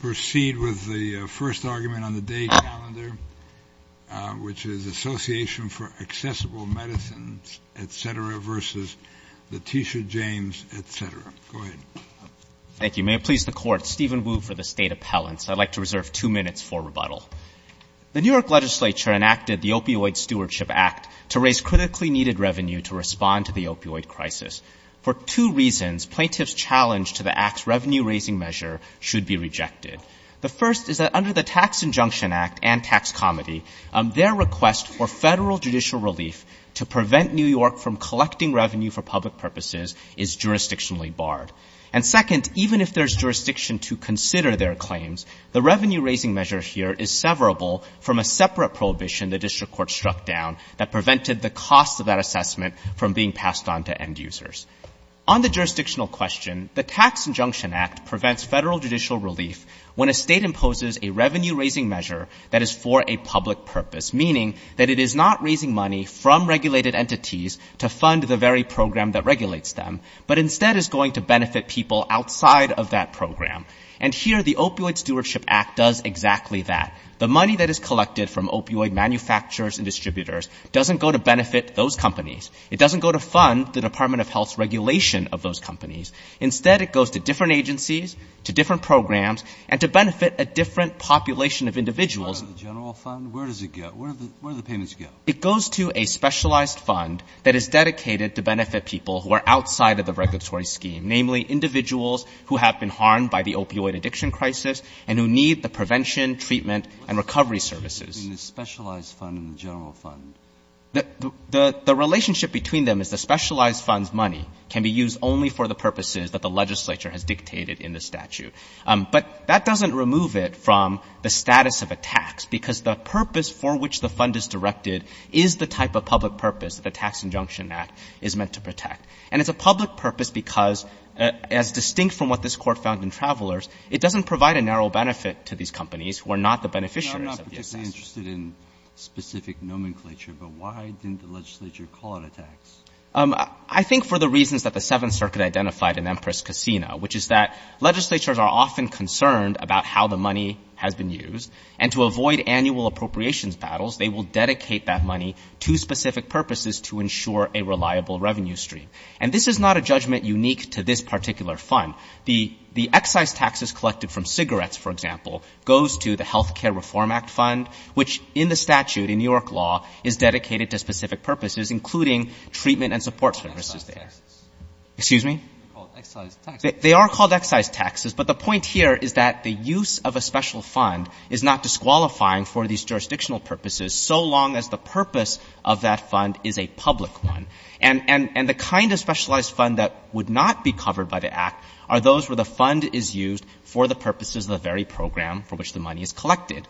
The New York Legislature enacted the Opioid Stewardship Act to raise critically needed revenue to respond to the opioid crisis. For two reasons, plaintiffs' challenge to the Act's revenue-raising measure should be rejected. The first is that under the Tax Injunction Act and Tax Comedy, their request for federal judicial relief to prevent New York from collecting revenue for public purposes is jurisdictionally barred. And second, even if there's jurisdiction to consider their claims, the revenue-raising measure here is severable from a separate prohibition the District Court struck down that prevented the cost of that assessment from being passed on to end users. On the jurisdictional question, the Tax Injunction Act prevents federal judicial relief when a state imposes a revenue-raising measure that is for a public purpose, meaning that it is not raising money from regulated entities to fund the very program that regulates them, but instead is going to benefit people outside of that program. And here the Opioid Stewardship Act does exactly that. The money that is collected from opioid manufacturers and distributors doesn't go to benefit those companies. It doesn't go to fund the Department of Health's regulation of those companies. Instead, it goes to different agencies, to different programs, and to benefit a different population of individuals. Where does it go? Where do the payments go? It goes to a specialized fund that is dedicated to benefit people who are outside of the regulatory scheme, namely individuals who have been harmed by the opioid addiction crisis and who need the prevention, treatment, and recovery services. What's the difference between the specialized fund and the general fund? The relationship between them is the specialized fund's money can be used only for the purposes that the legislature has dictated in the statute. But that doesn't remove it from the status of a tax, because the purpose for which the fund is directed is the type of public purpose that the Tax Injunction Act is meant to protect. And it's a public purpose because, as distinct from what this Court found in Travelers, it doesn't provide a narrow benefit to these companies who are not the beneficiaries of the assessment. I'm interested in specific nomenclature, but why didn't the legislature call it a tax? I think for the reasons that the Seventh Circuit identified in Empress Casino, which is that legislatures are often concerned about how the money has been used. And to avoid annual appropriations battles, they will dedicate that money to specific purposes to ensure a reliable revenue stream. And this is not a judgment unique to this particular fund. The excise taxes collected from cigarettes, for example, goes to the Healthcare Reform Act fund, which in the statute, in New York law, is dedicated to specific purposes, including treatment and support services there. Excuse me? They are called excise taxes. But the point here is that the use of a special fund is not disqualifying for these jurisdictional purposes, so long as the purpose of that fund is a public one. And the kind of specialized fund that would not be covered by the Act are those where the fund is used for the purposes of the very program for which the money is collected.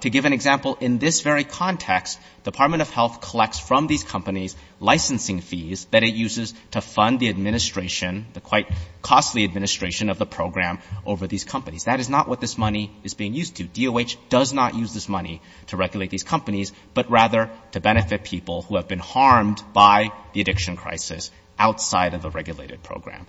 To give an example, in this very context, Department of Health collects from these companies licensing fees that it uses to fund the administration, the quite costly administration of the program over these companies. That is not what this money is being used to. DOH does not use this money to regulate these companies, but rather to benefit people who have been harmed by the addiction crisis outside of the regulated program.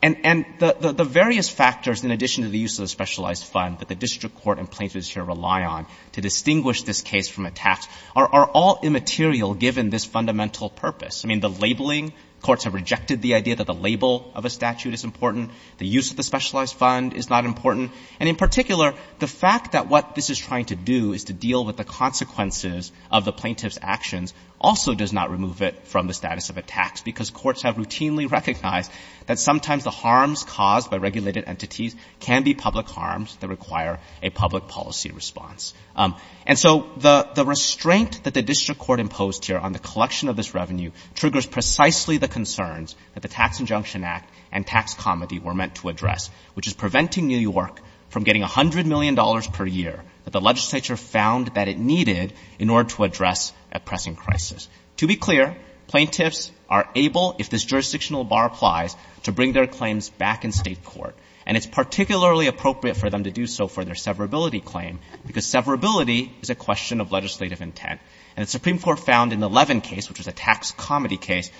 And the various factors, in addition to the use of the specialized fund that the district court and plaintiffs here rely on to distinguish this case from a tax, are all immaterial given this fundamental purpose. I mean, the labeling. Courts have rejected the idea that the label of a statute is important. The use of the specialized fund is not important. And in particular, the fact that what this is trying to do is to deal with the consequences of the plaintiff's actions also does not remove it from the status of a tax, because courts have routinely recognized that sometimes the harms caused by regulated entities can be public harms that require a public policy response. And so the restraint that the district court imposed here on the collection of this revenue triggers precisely the concerns that the Tax Injunction Act and tax comedy were meant to address, which is preventing New York from getting $100 million per year that the legislature found that it needed in order to address a pressing crisis. To be clear, plaintiffs are able, if this jurisdictional bar applies, to bring their claims back in state court. And it's particularly appropriate for them to do so for their severability claim, because severability is a question of legislative intent. And the Supreme Court found in the Levin case, which was a tax comedy case,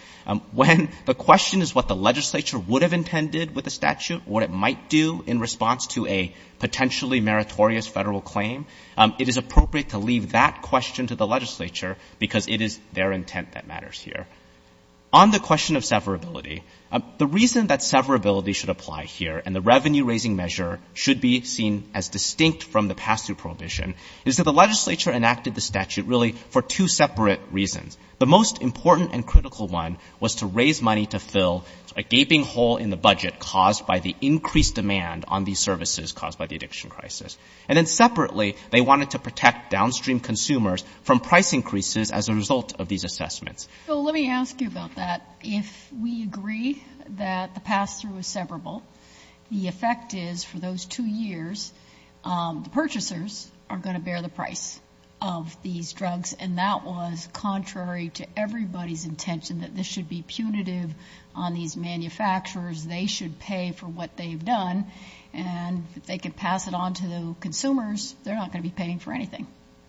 when the question is what the legislature would have intended with the statute, what it claim, it is appropriate to leave that question to the legislature, because it is their intent that matters here. On the question of severability, the reason that severability should apply here and the revenue-raising measure should be seen as distinct from the pass-through prohibition is that the legislature enacted the statute really for two separate reasons. The most important and critical one was to raise money to fill a gaping hole in the crisis. And then separately, they wanted to protect downstream consumers from price increases as a result of these assessments. So let me ask you about that. If we agree that the pass-through is severable, the effect is for those two years, the purchasers are going to bear the price of these drugs, and that was contrary to everybody's intention that this should be punitive on these manufacturers. They should pay for what they've done. And if they could pass it on to the consumers, they're not going to be paying for anything.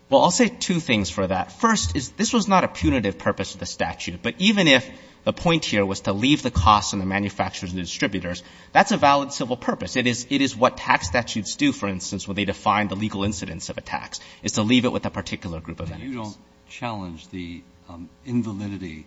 Well, I'll say two things for that. First is this was not a punitive purpose of the statute. But even if the point here was to leave the costs on the manufacturers and distributors, that's a valid civil purpose. It is what tax statutes do, for instance, when they define the legal incidence of a tax, is to leave it with a particular group of entities. But you don't challenge the invalidity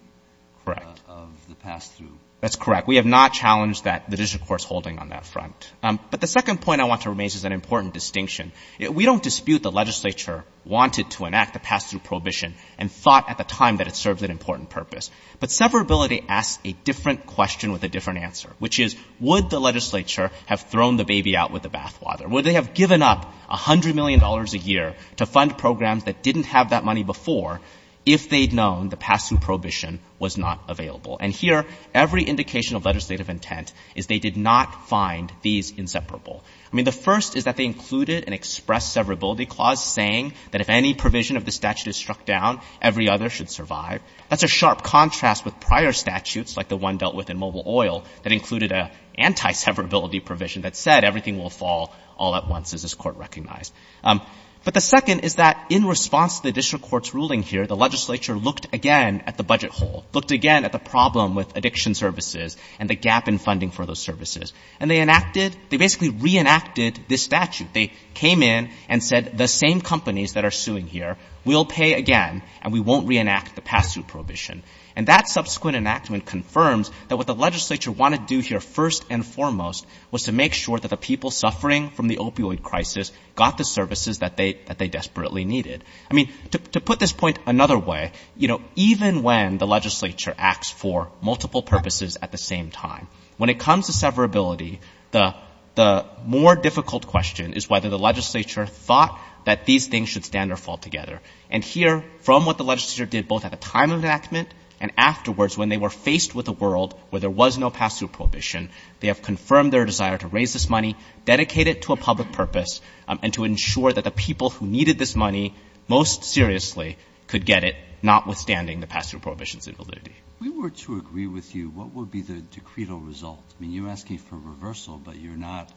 of the pass-through? That's correct. We have not challenged that the district court is holding on that front. But the second point I want to raise is an important distinction. We don't dispute the legislature wanted to enact the pass-through prohibition and thought at the time that it served an important purpose. But severability asks a different question with a different answer, which is, would the legislature have thrown the baby out with the bathwater? Would they have given up $100 million a year to fund programs that didn't have that money before if they'd known the pass-through prohibition was not available? And here, every indication of legislative intent is they did not find these inseparable. I mean, the first is that they included an express severability clause saying that if any provision of the statute is struck down, every other should survive. That's a sharp contrast with prior statutes, like the one dealt with in Mobil Oil, that included an anti-severability provision that said everything will fall all at once, as this Court recognized. But the second is that in response to the district court's ruling here, the legislature looked again at the budget hole, looked again at the problem with addiction services and the gap in funding for those services. And they enacted, they basically reenacted this statute. They came in and said the same companies that are suing here will pay again and we won't reenact the pass-through prohibition. And that subsequent enactment confirms that what the legislature wanted to do here first and foremost was to make sure that the people suffering from the opioid crisis got the services that they desperately needed. I mean, to put this point another way, you know, even when the legislature acts for multiple purposes at the same time, when it comes to severability, the more difficult question is whether the legislature thought that these things should stand or fall together. And here, from what the legislature did both at the time of the enactment and afterwards when they were faced with a world where there was no pass-through prohibition, they have confirmed their desire to raise this money, dedicate it to a public purpose, and to ensure that the people who needed this money most seriously could get it, notwithstanding the pass-through prohibition's invalidity. If we were to agree with you, what would be the decreed result? I mean, you're asking for reversal, but you're not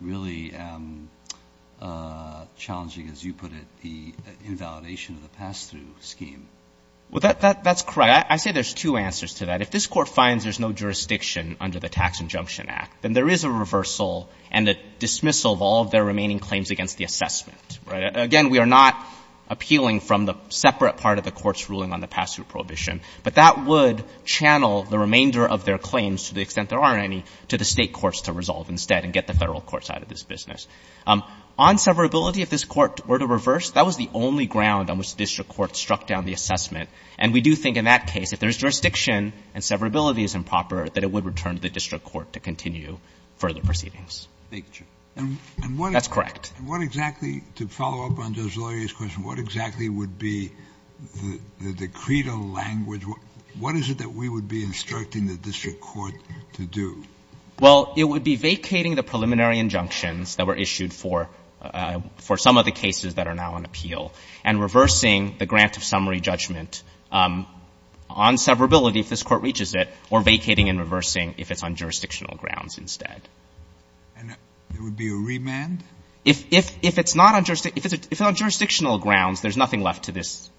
really challenging, as you put it, the invalidation of the pass-through scheme. Well, that's correct. I say there's two answers to that. If this Court finds there's no jurisdiction under the Tax Injunction Act, then there is a reversal and a dismissal of all of their remaining claims against the assessment, right? Again, we are not appealing from the separate part of the Court's ruling on the pass-through prohibition. But that would channel the remainder of their claims, to the extent there are any, to the State courts to resolve instead and get the Federal courts out of this business. On severability, if this Court were to reverse, that was the only ground on which the district court struck down the assessment. And we do think in that case, if there's jurisdiction and severability is improper, that it would return to the district court to continue further proceedings. Thank you, Judge. That's correct. And what exactly, to follow up on Judge Loyer's question, what exactly would be the decreed language? What is it that we would be instructing the district court to do? Well, it would be vacating the preliminary injunctions that were issued for some of the cases that are now on appeal and reversing the grant of summary judgment on severability if this Court reaches it, or vacating and reversing if it's on jurisdictional grounds instead. And there would be a remand? If it's not on jurisdictional grounds, there's nothing left to this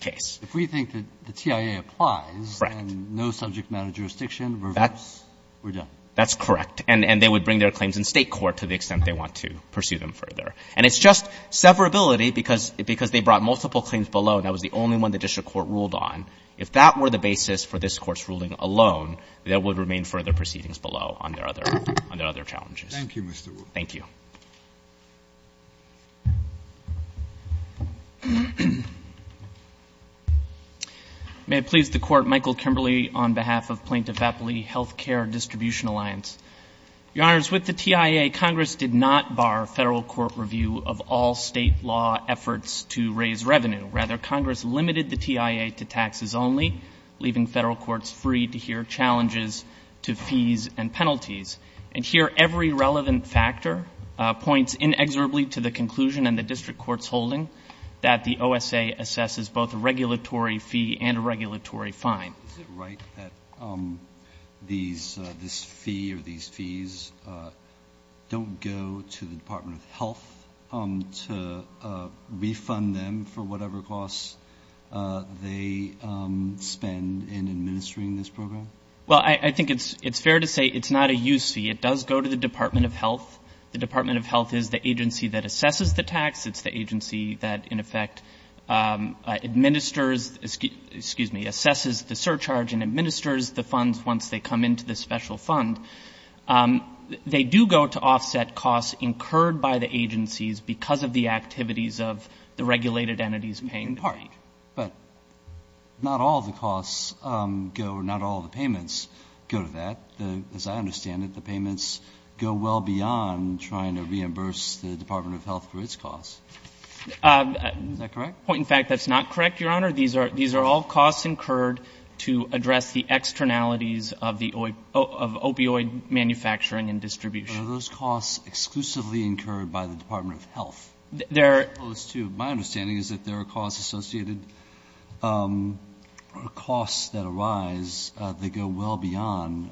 case. If we think that the TIA applies and no subject matter jurisdiction, reverse, we're done. That's correct. And they would bring their claims in State court to the extent they want to pursue them further. And it's just severability, because they brought multiple claims below, and that was the only one the district court ruled on. If that were the basis for this Court's ruling alone, there would remain further proceedings below on their other challenges. Thank you, Mr. Wolf. Thank you. May it please the Court, Michael Kimberley on behalf of Plaintiff Appley Healthcare Distribution Alliance. Your Honors, with the TIA, Congress did not bar Federal court review of all State law efforts to raise revenue. Rather, Congress limited the TIA to taxes only, leaving Federal courts free to hear challenges to fees and penalties. And here, every relevant factor points inexorably to the conclusion in the district court's holding that the OSA assesses both a regulatory fee and a regulatory fine. Is it right that this fee or these fees don't go to the Department of Health to refund them for whatever costs they spend in administering this program? Well, I think it's fair to say it's not a use fee. It does go to the Department of Health. The Department of Health is the agency that assesses the tax. It's the agency that, in effect, administers the surcharge and administers the funds once they come into the special fund. They do go to offset costs incurred by the agencies because of the activities of the regulated entities paying the fee. In part. But not all the costs go or not all the payments go to that. As I understand it, the payments go well beyond trying to reimburse the Department of Health for its costs. Is that correct? Point in fact, that's not correct, Your Honor. These are all costs incurred to address the externalities of opioid manufacturing and distribution. Are those costs exclusively incurred by the Department of Health? My understanding is that there are costs associated or costs that arise that go well beyond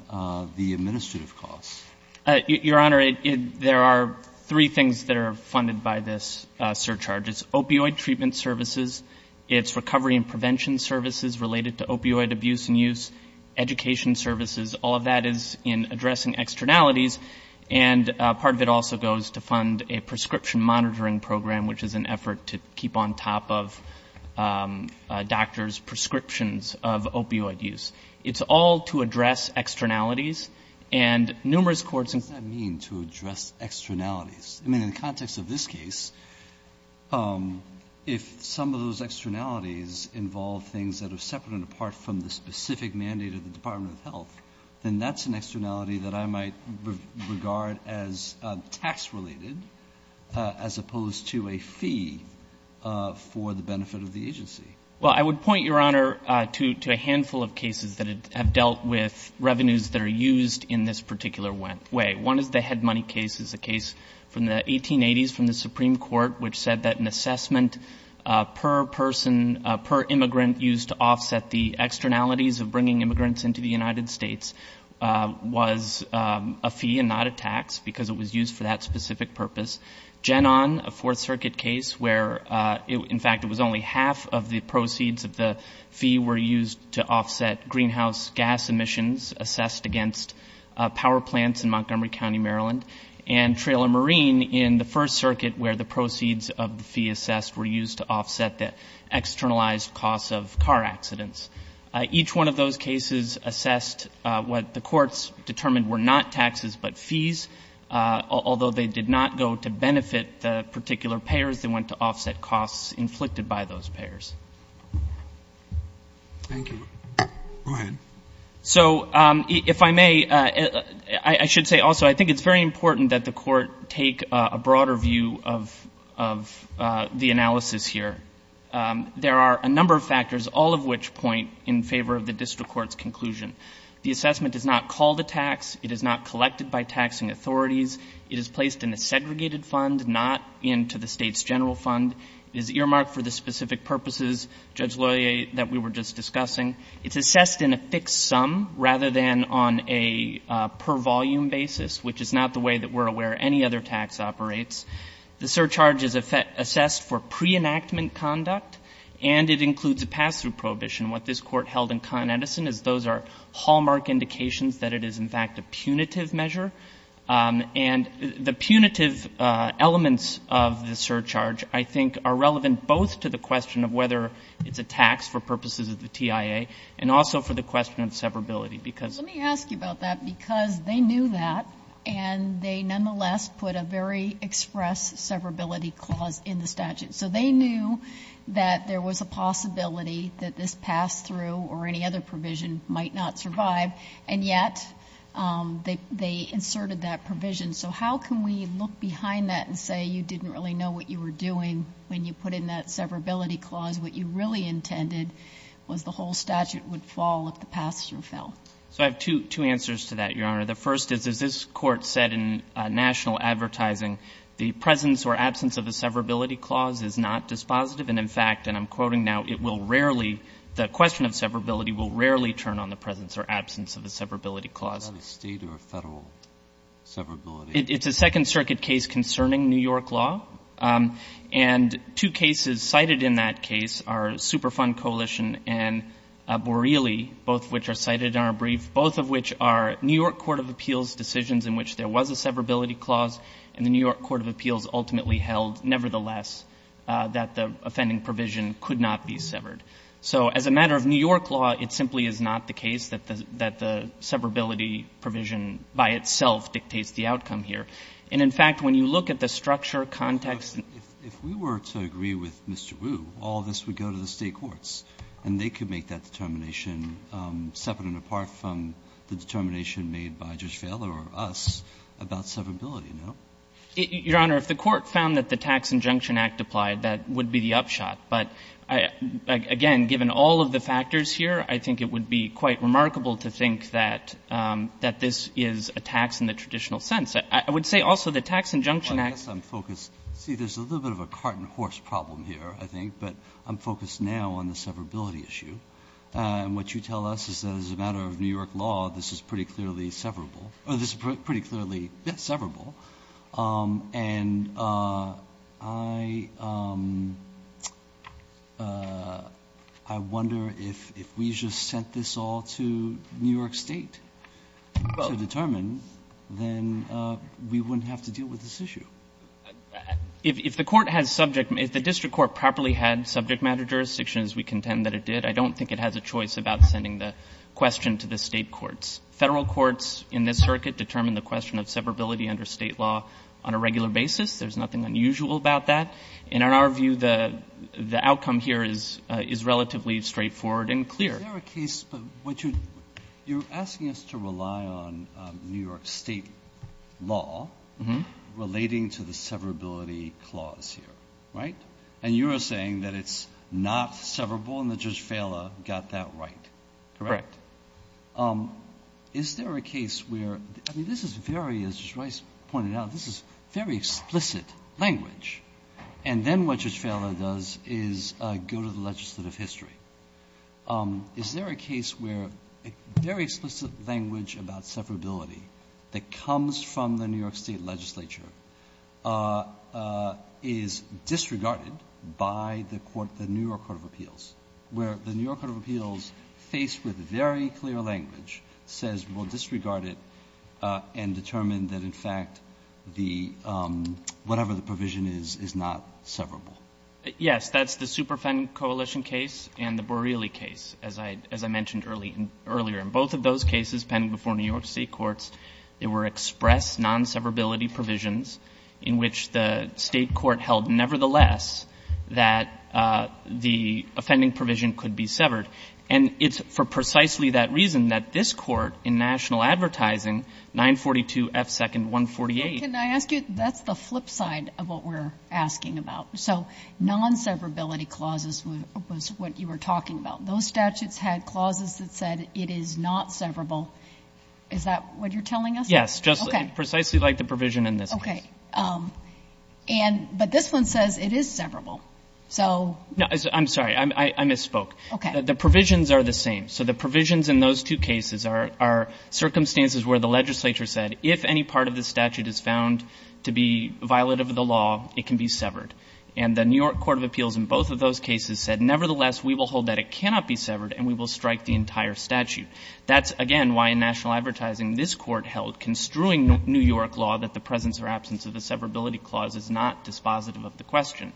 the administrative costs. Your Honor, there are three things that are funded by this surcharge. It's opioid treatment services. It's recovery and prevention services related to opioid abuse and use. Education services. All of that is in addressing externalities. And part of it also goes to fund a prescription monitoring program, which is an effort to keep on top of doctors' prescriptions of opioid use. It's all to address externalities. What does that mean to address externalities? I mean, in the context of this case, if some of those externalities involve things that are separate and apart from the specific mandate of the Department of Health, then that's an externality that I might regard as tax-related as opposed to a fee for the benefit of the agency. Well, I would point, Your Honor, to a handful of cases that have dealt with revenues that are used in this particular way. One is the head money case. It's a case from the 1880s from the Supreme Court which said that an assessment per person, per immigrant used to offset the externalities of bringing immigrants into the United States was a fee and not a tax because it was used for that specific purpose. Gen On, a Fourth Circuit case where, in fact, it was only half of the proceeds of the fee were used to offset greenhouse gas emissions assessed against power plants in Montgomery County, Maryland. And Trailer Marine in the First Circuit where the proceeds of the fee assessed were used to offset the externalized costs of car accidents. Each one of those cases assessed what the courts determined were not taxes but fees, although they did not go to benefit the particular payers. They went to offset costs inflicted by those payers. Thank you. Go ahead. So if I may, I should say also I think it's very important that the court take a broader view of the analysis here. There are a number of factors, all of which point in favor of the district court's conclusion. The assessment is not called a tax. It is not collected by taxing authorities. It is placed in a segregated fund, not into the state's general fund. It is earmarked for the specific purposes, Judge Loyer, that we were just discussing. It's assessed in a fixed sum rather than on a per volume basis, which is not the way that we're aware any other tax operates. The surcharge is assessed for pre-enactment conduct, and it includes a pass-through prohibition. What this Court held in Con Edison is those are hallmark indications that it is, in fact, a punitive measure. And the punitive elements of the surcharge, I think, are relevant both to the question of whether it's a tax for purposes of the TIA and also for the question of severability because of the tax. And the question is, how can we express severability clause in the statute? So they knew that there was a possibility that this pass-through or any other provision might not survive, and yet they inserted that provision. So how can we look behind that and say, you didn't really know what you were doing when you put in that severability clause? What you really intended was the whole statute would fall if the pass-through So I have two answers to that, Your Honor. The first is, as this Court said in national advertising, the presence or absence of a severability clause is not dispositive. And, in fact, and I'm quoting now, it will rarely, the question of severability will rarely turn on the presence or absence of a severability clause. Is that a State or a Federal severability? It's a Second Circuit case concerning New York law. And two cases cited in that case are Superfund Coalition and Borelli, both of which are cited in our brief, both of which are New York court of appeals decisions in which there was a severability clause and the New York court of appeals ultimately held, nevertheless, that the offending provision could not be severed. So as a matter of New York law, it simply is not the case that the severability provision by itself dictates the outcome here. And, in fact, when you look at the structure, context. Breyer, if we were to agree with Mr. Wu, all of this would go to the State courts and they could make that determination separate and apart from the determination made by Judge Fehler or us about severability, no? Your Honor, if the Court found that the Tax Injunction Act applied, that would be the upshot. But, again, given all of the factors here, I think it would be quite remarkable to think that this is a tax in the traditional sense. I would say also the Tax Injunction Act. Well, I guess I'm focused. See, there's a little bit of a cart and horse problem here, I think. But I'm focused now on the severability issue. And what you tell us is that as a matter of New York law, this is pretty clearly severable. Or this is pretty clearly severable. And I wonder if we just sent this all to New York State to determine, then we wouldn't have to deal with this issue. If the Court has subject, if the district court properly had subject matter jurisdiction as we contend that it did, I don't think it has a choice about sending the question to the State courts. Federal courts in this circuit determine the question of severability under State law on a regular basis. There's nothing unusual about that. And in our view, the outcome here is relatively straightforward and clear. But is there a case, you're asking us to rely on New York State law relating to the severability clause here, right? And you are saying that it's not severable and that Judge Fehler got that right, correct? Correct. Is there a case where, I mean, this is very, as Judge Rice pointed out, this is very explicit language. And then what Judge Fehler does is go to the legislative history. Is there a case where a very explicit language about severability that comes from the New York State legislature is disregarded by the New York Court of Appeals, where the New York Court of Appeals, faced with very clear language, says we'll disregard it and determine that, in fact, whatever the provision is, is not severable? Yes. That's the Superfend Coalition case and the Borrelli case, as I mentioned earlier. In both of those cases pending before New York State courts, there were express non-severability provisions in which the State court held, nevertheless, that the offending provision could be severed. And it's for precisely that reason that this court, in national advertising, 942 F. 2nd 148. Can I ask you, that's the flip side of what we're asking about. So non-severability clauses was what you were talking about. Those statutes had clauses that said it is not severable. Is that what you're telling us? Yes. Just precisely like the provision in this case. Okay. And but this one says it is severable. So no. I'm sorry. I misspoke. Okay. The provisions are the same. So the provisions in those two cases are circumstances where the legislature said if any part of the statute is found to be violative of the law, it can be severed. And the New York Court of Appeals in both of those cases said, nevertheless, we will hold that it cannot be severed and we will strike the entire statute. That's, again, why in national advertising this Court held, construing New York law, that the presence or absence of the severability clause is not dispositive of the question.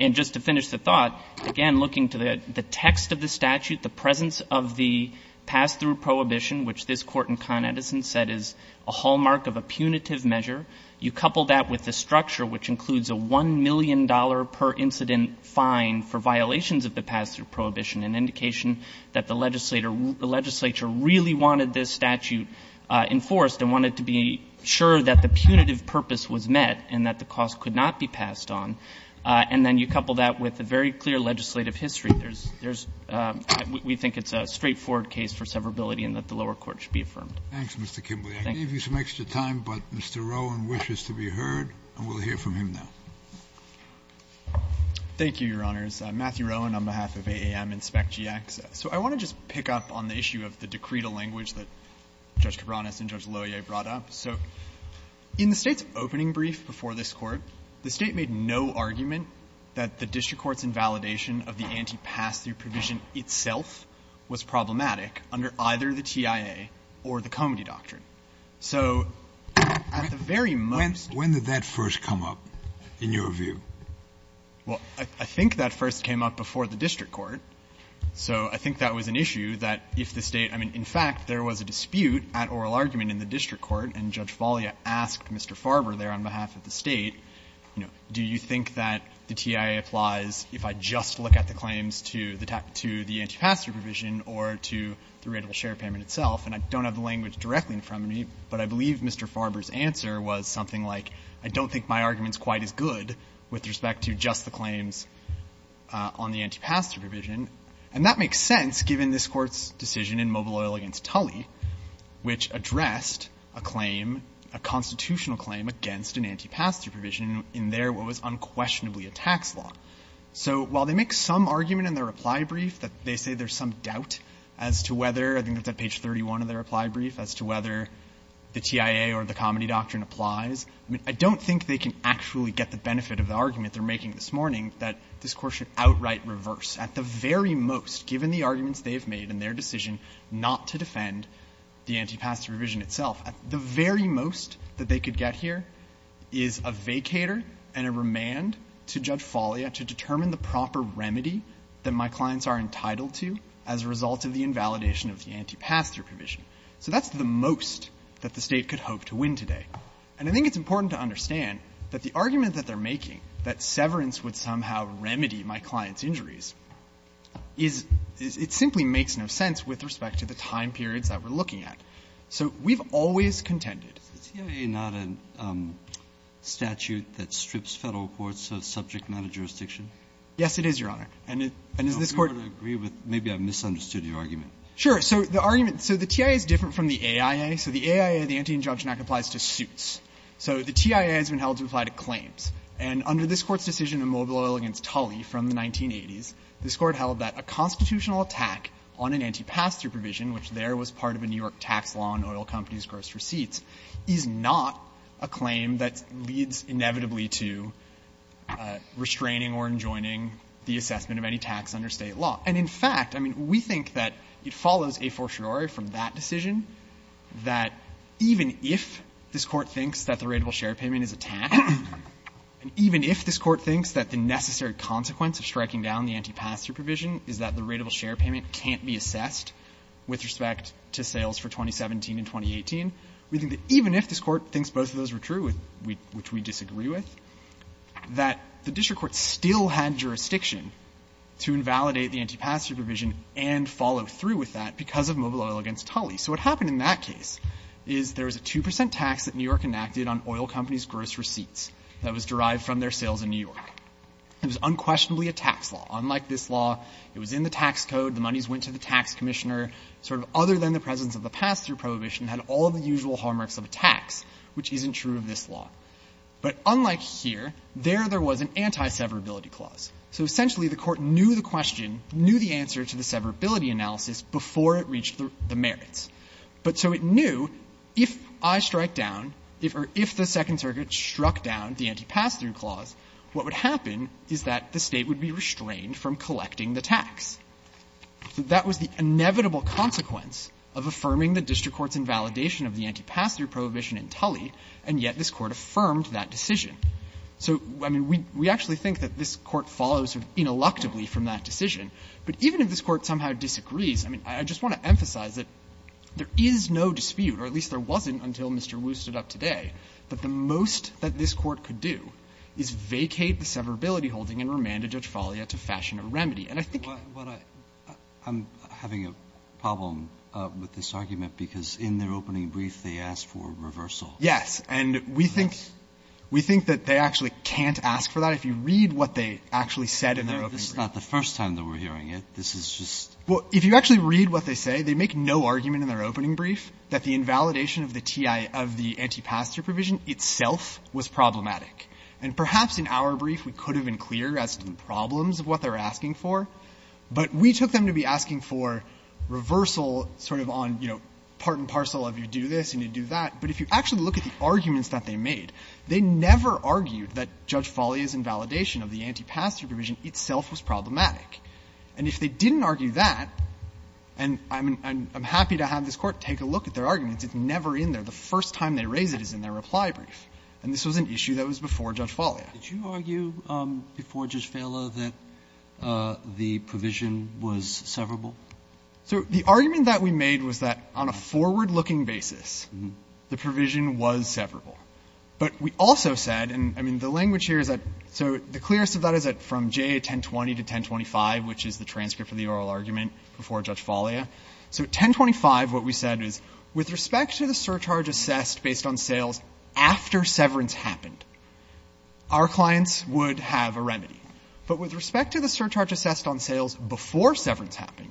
And just to finish the thought, again, looking to the text of the statute, the presence of the pass-through prohibition, which this Court in Con Edison said is a hallmark of a punitive measure, you couple that with the structure, which includes a $1 million per incident fine for violations of the pass-through prohibition, an indication that the legislature really wanted this statute enforced and wanted to be sure that the punitive purpose was met and that the cost could not be passed on. And then you couple that with a very clear legislative history. There's we think it's a straightforward case for severability and that the lower court should be affirmed. Thank you, Mr. Kimbley. I gave you some extra time, but Mr. Rowan wishes to be heard, and we'll hear from him now. Thank you, Your Honors. Matthew Rowan on behalf of AAM and SPEC-GX. So I want to just pick up on the issue of the decretal language that Judge Cabranes and Judge Loyer brought up. So in the State's opening brief before this Court, the State made no argument that the district court's invalidation of the anti-pass-through provision itself was problematic under either the TIA or the Comedy Doctrine. So at the very most When did that first come up, in your view? Well, I think that first came up before the district court. So I think that was an issue that if the State – I mean, in fact, there was a dispute at oral argument in the district court, and Judge Falia asked Mr. Farber there on behalf of the State, you know, do you think that the TIA applies if I just look at the claims to the anti-pass-through provision or to the writable share payment itself? And I don't have the language directly in front of me, but I believe Mr. Farber's answer was something like, I don't think my argument is quite as good with respect to just the claims on the anti-pass-through provision. And that makes sense, given this Court's decision in Mobile Oil v. Tully, which addressed a claim, a constitutional claim, against an anti-pass-through provision in their what was unquestionably a tax law. So while they make some argument in their reply brief that they say there's some doubt as to whether, I think that's at page 31 of their reply brief, as to whether the TIA or the Comedy Doctrine applies, I mean, I don't think they can actually get the benefit of the argument they're making this morning that this Court should outright reverse at the very most, given the arguments they've made in their decision not to defend the anti-pass-through provision itself. The very most that they could get here is a vacator and a remand to Judge Foglia to determine the proper remedy that my clients are entitled to as a result of the invalidation of the anti-pass-through provision. So that's the most that the State could hope to win today. And I think it's important to understand that the argument that they're making, that severance would somehow remedy my client's injuries, is — it simply makes no sense with respect to the time periods that we're looking at. So we've always contended — Breyer, is the TIA not a statute that strips Federal courts of subject matter jurisdiction? Yes, it is, Your Honor. And is this Court — I agree with — maybe I've misunderstood your argument. Sure. So the argument — so the TIA is different from the AIA. So the AIA, the Anti-Injunction Act, applies to suits. So the TIA has been held to apply to claims. And under this Court's decision in Mobile Oil v. Tully from the 1980s, this Court held that a constitutional attack on an anti-pass-through provision, which there was part of a New York tax law on oil companies' gross receipts, is not a claim that leads inevitably to restraining or enjoining the assessment of any tax under State law. And in fact, I mean, we think that it follows a fortiori from that decision that even if this Court thinks that the rateable share payment is a tax, and even if this Court thinks that the necessary consequence of striking down the anti-pass-through provision is that the rateable share payment can't be assessed with respect to sales for 2017 and 2018, we think that even if this Court thinks both of those were true, which we disagree with, that the district court still had jurisdiction to invalidate the anti-pass-through provision and follow through with that because of Mobile Oil v. Tully. So what happened in that case is there was a 2 percent tax that New York enacted on oil companies' gross receipts that was derived from their sales in New York. It was unquestionably a tax law. Unlike this law, it was in the tax code. The monies went to the tax commissioner. Sort of other than the presence of the pass-through prohibition had all the usual hallmarks of a tax, which isn't true of this law. But unlike here, there there was an anti-severability clause. So essentially the Court knew the question, knew the answer to the severability analysis before it reached the merits. But so it knew if I strike down, or if the Second Circuit struck down the anti-pass-through clause, what would happen is that the State would be restrained from collecting the tax. That was the inevitable consequence of affirming the district court's invalidation of the anti-pass-through prohibition in Tully, and yet this Court affirmed that decision. So, I mean, we actually think that this Court follows ineluctably from that decision. But even if this Court somehow disagrees, I mean, I just want to emphasize that there is no dispute, or at least there wasn't until Mr. Wu stood up today, that the most that this Court could do is vacate the severability holding and remand a judge Falia to fashion a remedy. And I think what I'm having a problem with this argument, because in their opening brief they asked for reversal. Yes. And we think we think that they actually can't ask for that. If you read what they actually said in their opening brief. This is not the first time that we're hearing it. This is just. Well, if you actually read what they say, they make no argument in their opening brief that the invalidation of the TIA of the anti-pass-through provision itself was problematic. And perhaps in our brief we could have been clear as to the problems of what they were asking for, but we took them to be asking for reversal sort of on, you know, part and parcel of you do this and you do that. But if you actually look at the arguments that they made, they never argued that Judge Falia's invalidation of the anti-pass-through provision itself was problematic. And if they didn't argue that, and I'm happy to have this Court take a look at their arguments, it's never in there. The first time they raise it is in their reply brief. And this was an issue that was before Judge Falia. Roberts. Did you argue before Judge Fala that the provision was severable? So the argument that we made was that on a forward-looking basis, the provision was severable. But we also said, and I mean, the language here is that, so the clearest of that was that from JA-1020 to 1025, which is the transcript of the oral argument before Judge Falia, so 1025, what we said is, with respect to the surcharge assessed based on sales after severance happened, our clients would have a remedy. But with respect to the surcharge assessed on sales before severance happened,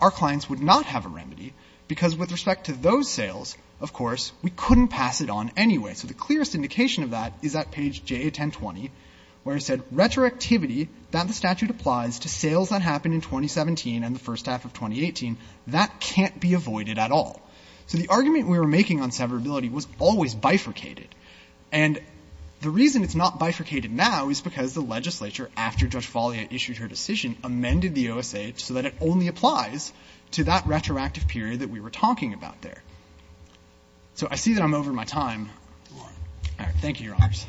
our clients would not have a remedy because with respect to those sales, of course, we couldn't pass it on anyway. So the clearest indication of that is at page JA-1020, where it said, retroactivity that the statute applies to sales that happened in 2017 and the first half of 2018, that can't be avoided at all. So the argument we were making on severability was always bifurcated. And the reason it's not bifurcated now is because the legislature, after Judge Falia issued her decision, amended the OSA so that it only applies to that retroactive period that we were talking about there. So I see that I'm over my time. All right. Thank you, Your Honors.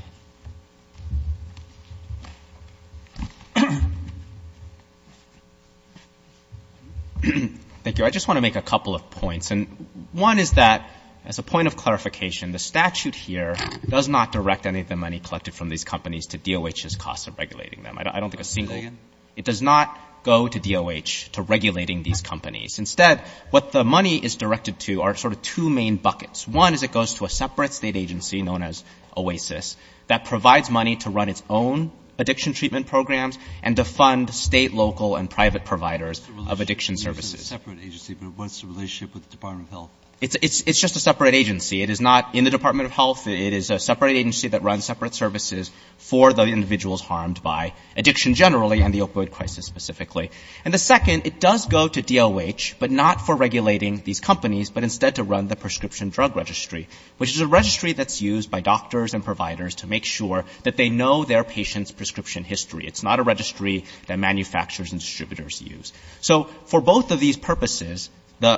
Thank you. I just want to make a couple of points. And one is that, as a point of clarification, the statute here does not direct any of the money collected from these companies to DOH's costs of regulating them. I don't think a single— Say that again. It does not go to DOH to regulating these companies. Instead, what the money is directed to are sort of two main buckets. One is it goes to a separate state agency known as OASIS that provides money to run its own addiction treatment programs and to fund state, local, and private providers of addiction services. It's a separate agency, but what's the relationship with the Department of Health? It's just a separate agency. It is not in the Department of Health. It is a separate agency that runs separate services for the individuals harmed by addiction generally and the opioid crisis specifically. And the second, it does go to DOH, but not for regulating these companies, but instead to run the prescription drug registry, which is a registry that's used by doctors and providers to make sure that they know their patient's prescription history. It's not a registry that manufacturers and distributors use. So, for both of these purposes,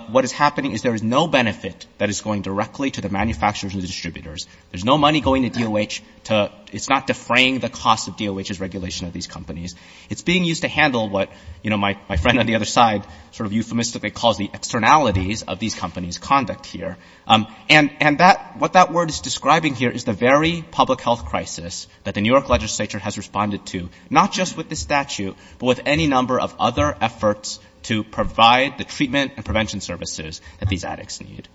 what is happening is there is no benefit that is going directly to the manufacturers and distributors. There's no money going to DOH to—it's not defraying the cost of DOH's regulation of these companies. It's being used to handle what, you know, my friend on the other side sort of euphemistically calls the externalities of these companies' conduct here. And that—what that word is describing here is the very public health crisis that the New York legislature has responded to, not just with this statute, but with any number of other efforts to provide the treatment and prevention services that these addicts need.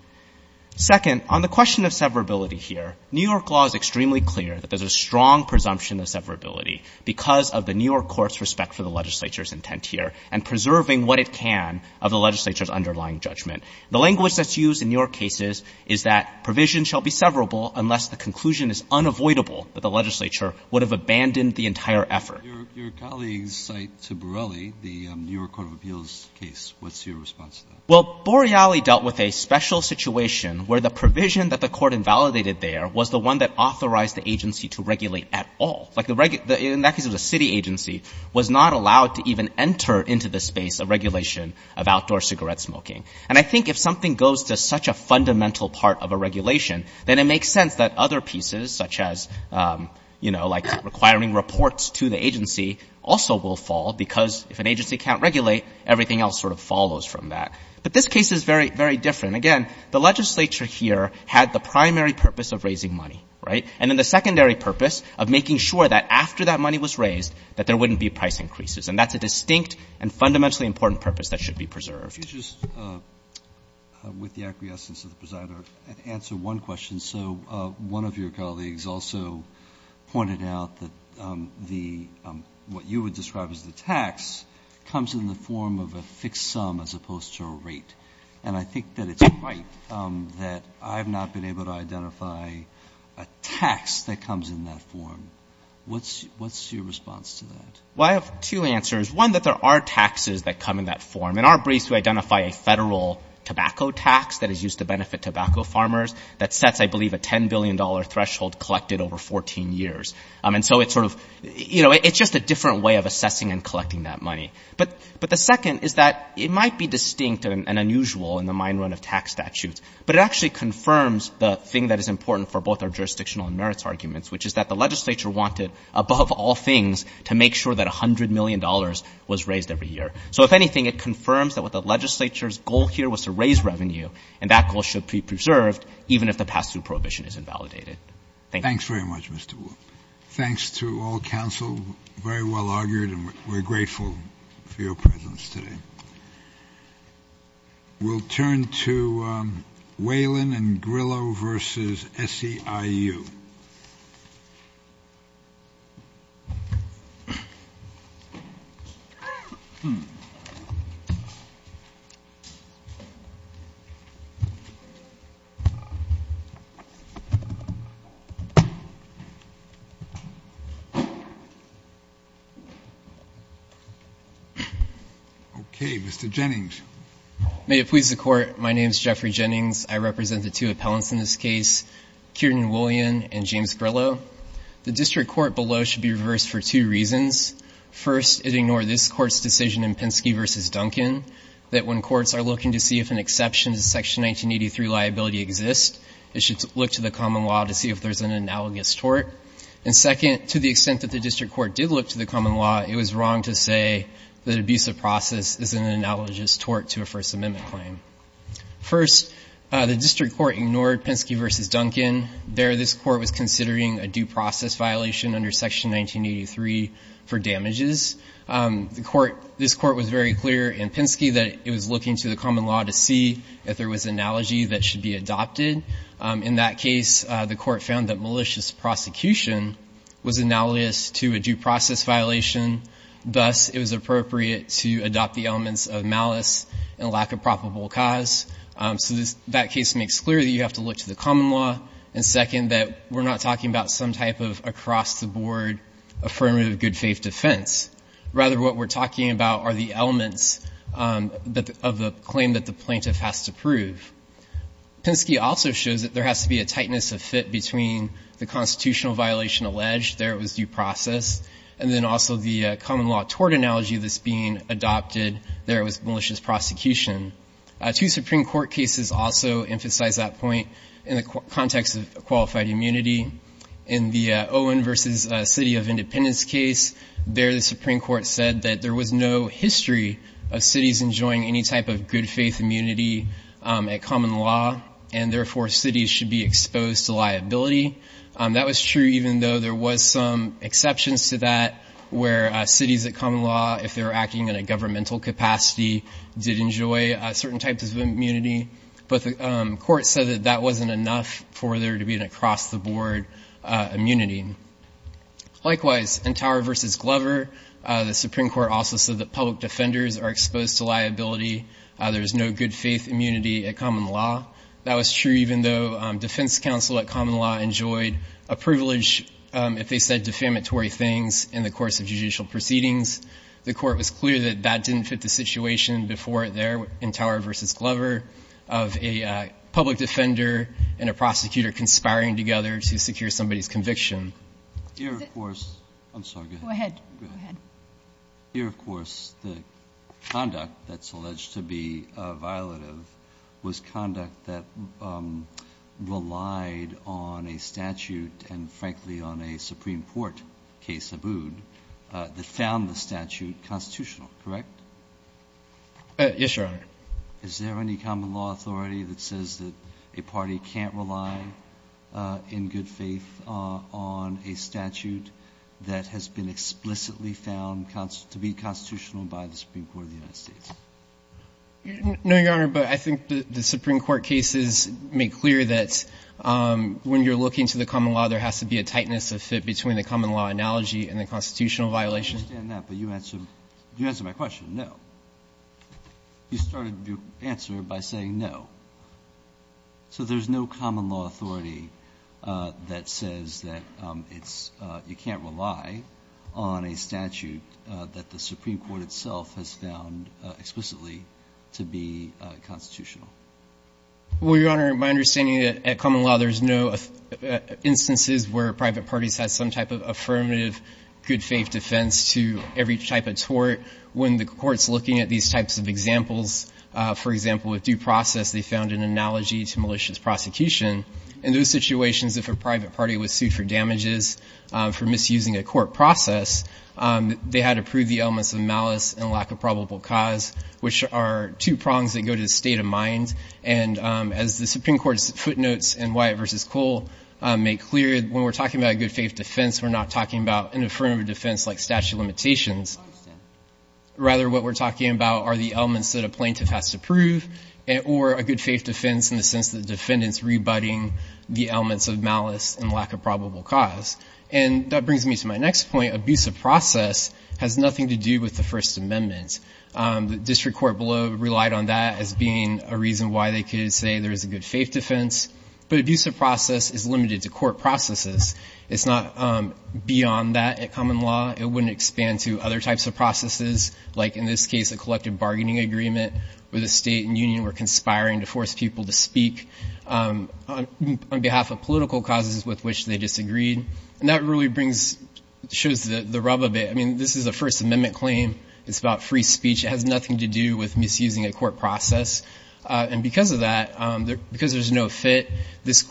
Second, on the question of severability here, New York law is extremely clear that there's a strong presumption of severability because of the New York court's respect for the legislature's intent here and preserving what it can of the legislature's underlying judgment. The language that's used in New York cases is that provision shall be severable unless the conclusion is unavoidable that the legislature would have abandoned the entire effort. Your colleagues cite to Borelli the New York Court of Appeals case. What's your response to that? Well, Borelli dealt with a special situation where the provision that the court invalidated there was the one that authorized the agency to regulate at all. Like, in that case, it was a city agency, was not allowed to even enter into the space of regulation of outdoor cigarette smoking. And I think if something goes to such a fundamental part of a regulation, then it makes sense that other pieces, such as, you know, like requiring reports to the agency, also will fall because if an agency can't regulate, everything else sort of follows from that. But this case is very, very different. And again, the legislature here had the primary purpose of raising money, right? And then the secondary purpose of making sure that after that money was raised, that there wouldn't be price increases. And that's a distinct and fundamentally important purpose that should be preserved. Could you just, with the acquiescence of the presider, answer one question? So one of your colleagues also pointed out that the — what you would describe as the tax comes in the form of a fixed sum as opposed to a rate. And I think that it's right that I've not been able to identify a tax that comes in that form. What's your response to that? Well, I have two answers. One, that there are taxes that come in that form. In our briefs, we identify a federal tobacco tax that is used to benefit tobacco farmers that sets, I believe, a $10 billion threshold collected over 14 years. And so it's sort of — you know, it's just a different way of assessing and collecting that money. But the second is that it might be distinct and unusual in the mine run of tax statutes, but it actually confirms the thing that is important for both our jurisdictional and merits arguments, which is that the legislature wanted, above all things, to make sure that $100 million was raised every year. So if anything, it confirms that what the legislature's goal here was to raise revenue, and that goal should be preserved even if the pass-through prohibition is invalidated. Thank you. Thanks very much, Mr. Wu. Thanks to all counsel. Very well argued, and we're grateful for your presence today. We'll turn to Whalen and Grillo versus SEIU. Okay, Mr. Jennings. May it please the Court, my name is Jeffrey Jennings. I represent the two appellants in this case, Kiernan Whalen and James Grillo. The district court below should be reversed for two reasons. First, it ignored this Court's decision in Penske versus Duncan that when courts are looking to see if an exception to Section 1983 liability exists, it should look to the common law to see if there's an analogous tort. And second, to the extent that the district court did look to the common law, it was wrong to say that abuse of process is an analogous tort to a First Amendment claim. First, the district court ignored Penske versus Duncan. There, this court was considering a due process violation under Section 1983 for damages. The court, this court was very clear in Penske that it was looking to the common law to see if there was analogy that should be adopted. In that case, the court found that malicious prosecution was analogous to a due process violation, thus it was appropriate to adopt the elements of malice and lack of probable cause. So that case makes clear that you have to look to the common law. And second, that we're not talking about some type of across-the-board affirmative good faith defense. Rather, what we're talking about are the elements of the claim that the plaintiff has to prove. Penske also shows that there has to be a tightness of fit between the constitutional violation alleged, there it was due process, and then also the common law tort analogy that's being adopted, there it was malicious prosecution. Two Supreme Court cases also emphasize that point in the context of qualified immunity. In the Owen versus City of Independence case, there the Supreme Court said that there was no history of cities enjoying any type of good faith immunity at common law, and therefore cities should be exposed to liability. That was true even though there was some exceptions to that where cities at common law, if they were acting in a governmental capacity, did enjoy certain types of immunity. But the court said that that wasn't enough for there to be an across-the-board immunity. Likewise, in Tower versus Glover, the Supreme Court also said that public defenders are exposed to liability. There was no good faith immunity at common law. That was true even though defense counsel at common law enjoyed a privilege if they said defamatory things in the course of judicial proceedings. The court was clear that that didn't fit the situation before there in Tower versus Glover of a public defender and a prosecutor conspiring together to secure somebody's conviction. Here, of course, I'm sorry. Go ahead. Go ahead. Here, of course, the conduct that's alleged to be violative was conduct that relied on a statute and, frankly, on a Supreme Court case, Abood, that found the statute constitutional, correct? Yes, Your Honor. Is there any common law authority that says that a party can't rely in good faith on a statute that has been explicitly found to be constitutional by the Supreme Court of the United States? No, Your Honor, but I think the Supreme Court cases make clear that when you're looking to the common law, there has to be a tightness of fit between the common law analogy and the constitutional violation. I understand that, but you answered my question, no. You started your answer by saying no. So there's no common law authority that says that it's you can't rely on a statute that the Supreme Court itself has found explicitly to be constitutional. Well, Your Honor, my understanding at common law, there's no instances where private parties have some type of affirmative good faith defense to every type of tort. When the court's looking at these types of examples, for example, with due process, they found an analogy to malicious prosecution. In those situations, if a private party was sued for damages for misusing a court due process, they had to prove the elements of malice and lack of probable cause, which are two prongs that go to the state of mind. And as the Supreme Court's footnotes in Wyatt v. Cole make clear, when we're talking about a good faith defense, we're not talking about an affirmative defense like statute of limitations. I understand. Rather, what we're talking about are the elements that a plaintiff has to prove or a good faith defense in the sense that the defendant's rebutting the elements of malice and lack of probable cause. And that brings me to my next point. Abusive process has nothing to do with the First Amendment. The district court below relied on that as being a reason why they could say there is a good faith defense. But abusive process is limited to court processes. It's not beyond that at common law. It wouldn't expand to other types of processes, like in this case, a collective bargaining agreement where the state and union were conspiring to force people to speak on behalf of political causes with which they disagreed. And that really brings, shows the rub of it. I mean, this is a First Amendment claim. It's about free speech. It has nothing to do with misusing a court process. And because of that, because there's no fit, this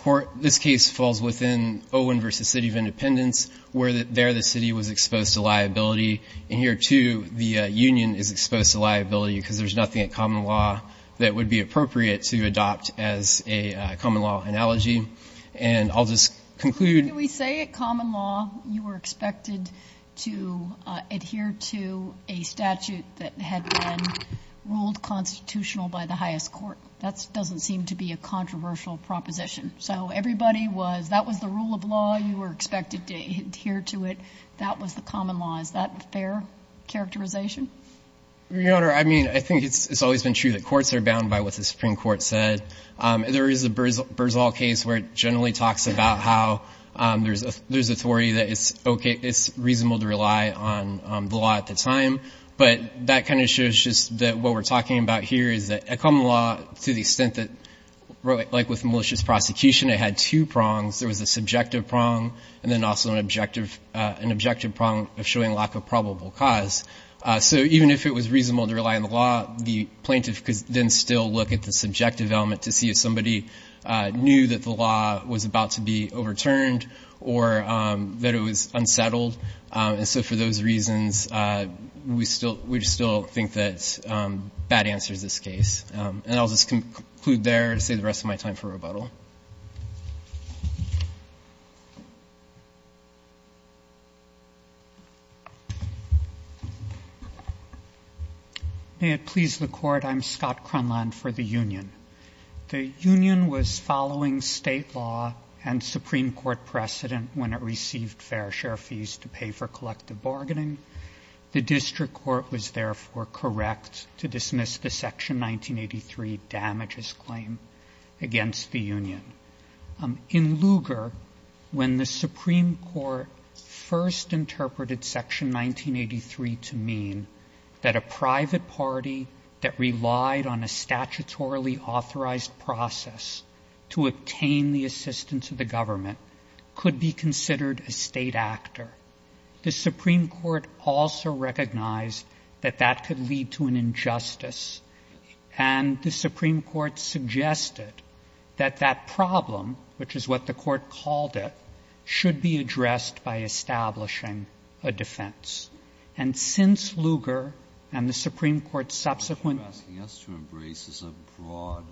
case falls within Owen v. City of Independence, where there the city was exposed to liability. And here, too, the union is exposed to liability because there's nothing at common law that would be appropriate to adopt as a common law analogy. And I'll just conclude. Do we say at common law you were expected to adhere to a statute that had been ruled constitutional by the highest court? That doesn't seem to be a controversial proposition. So everybody was, that was the rule of law. You were expected to adhere to it. That was the common law. Is that a fair characterization? Your Honor, I mean, I think it's always been true that courts are bound by what the Supreme Court said. There is a Berzall case where it generally talks about how there's authority that it's reasonable to rely on the law at the time. But that kind of shows just that what we're talking about here is that at common law, to the extent that, like with malicious prosecution, it had two prongs. There was a subjective prong and then also an objective prong of showing lack of probable cause. So even if it was reasonable to rely on the law, the plaintiff could then still look at the subjective element to see if somebody knew that the law was about to be overturned or that it was unsettled. And so for those reasons, we still think that bad answer is this case. And I'll just conclude there and save the rest of my time for rebuttal. May it please the Court. I'm Scott Cronland for the union. The union was following State law and Supreme Court precedent when it received fair share fees to pay for collective bargaining. The district court was therefore correct to dismiss the Section 1983 damages claim against the union. In Lugar, when the Supreme Court first interpreted Section 1983 to mean that a private party that relied on a statutorily authorized process to obtain the assistance of the government could be considered a State actor, the Supreme Court also recognized that that could lead to an injustice. And the Supreme Court suggested that that problem, which is what the Court called it, should be addressed by establishing a defense. And since Lugar and the Supreme Court's subsequent ---- Breyer, you're asking us to embrace as a broad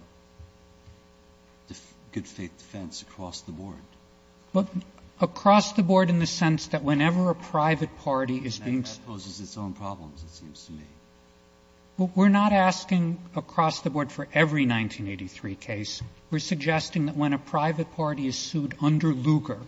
good-faith defense across the board. But across the board in the sense that whenever a private party is being ---- And that poses its own problems, it seems to me. We're not asking across the board for every 1983 case. We're suggesting that when a private party is sued under Lugar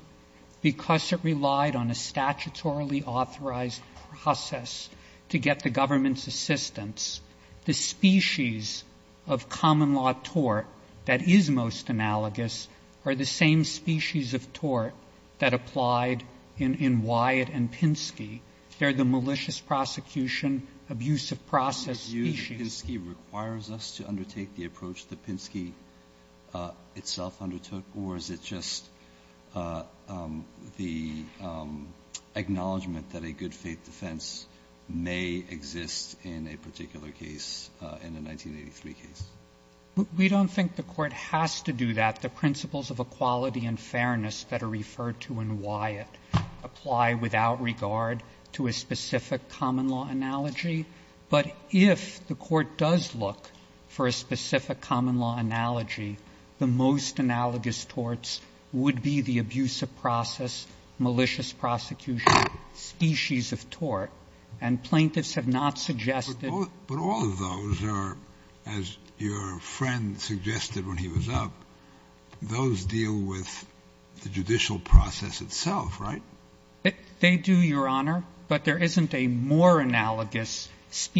because it relied on a statutorily authorized process to get the government's assistance, the species of common law tort that is most analogous are the same species of tort that applied in Wyatt and Pinsky. They're the malicious prosecution, abusive process species. Do you view that Pinsky requires us to undertake the approach that Pinsky itself undertook, or is it just the acknowledgment that a good-faith defense may exist in a particular case, in a 1983 case? We don't think the Court has to do that. The principles of equality and fairness that are referred to in Wyatt apply without regard to a specific common law analogy. But if the Court does look for a specific common law analogy, the most analogous torts would be the abusive process, malicious prosecution species of tort. And plaintiffs have not suggested ---- But all of those are, as your friend suggested when he was up, those deal with the judicial process itself, right? They do, your Honor, but there isn't a more analogous species.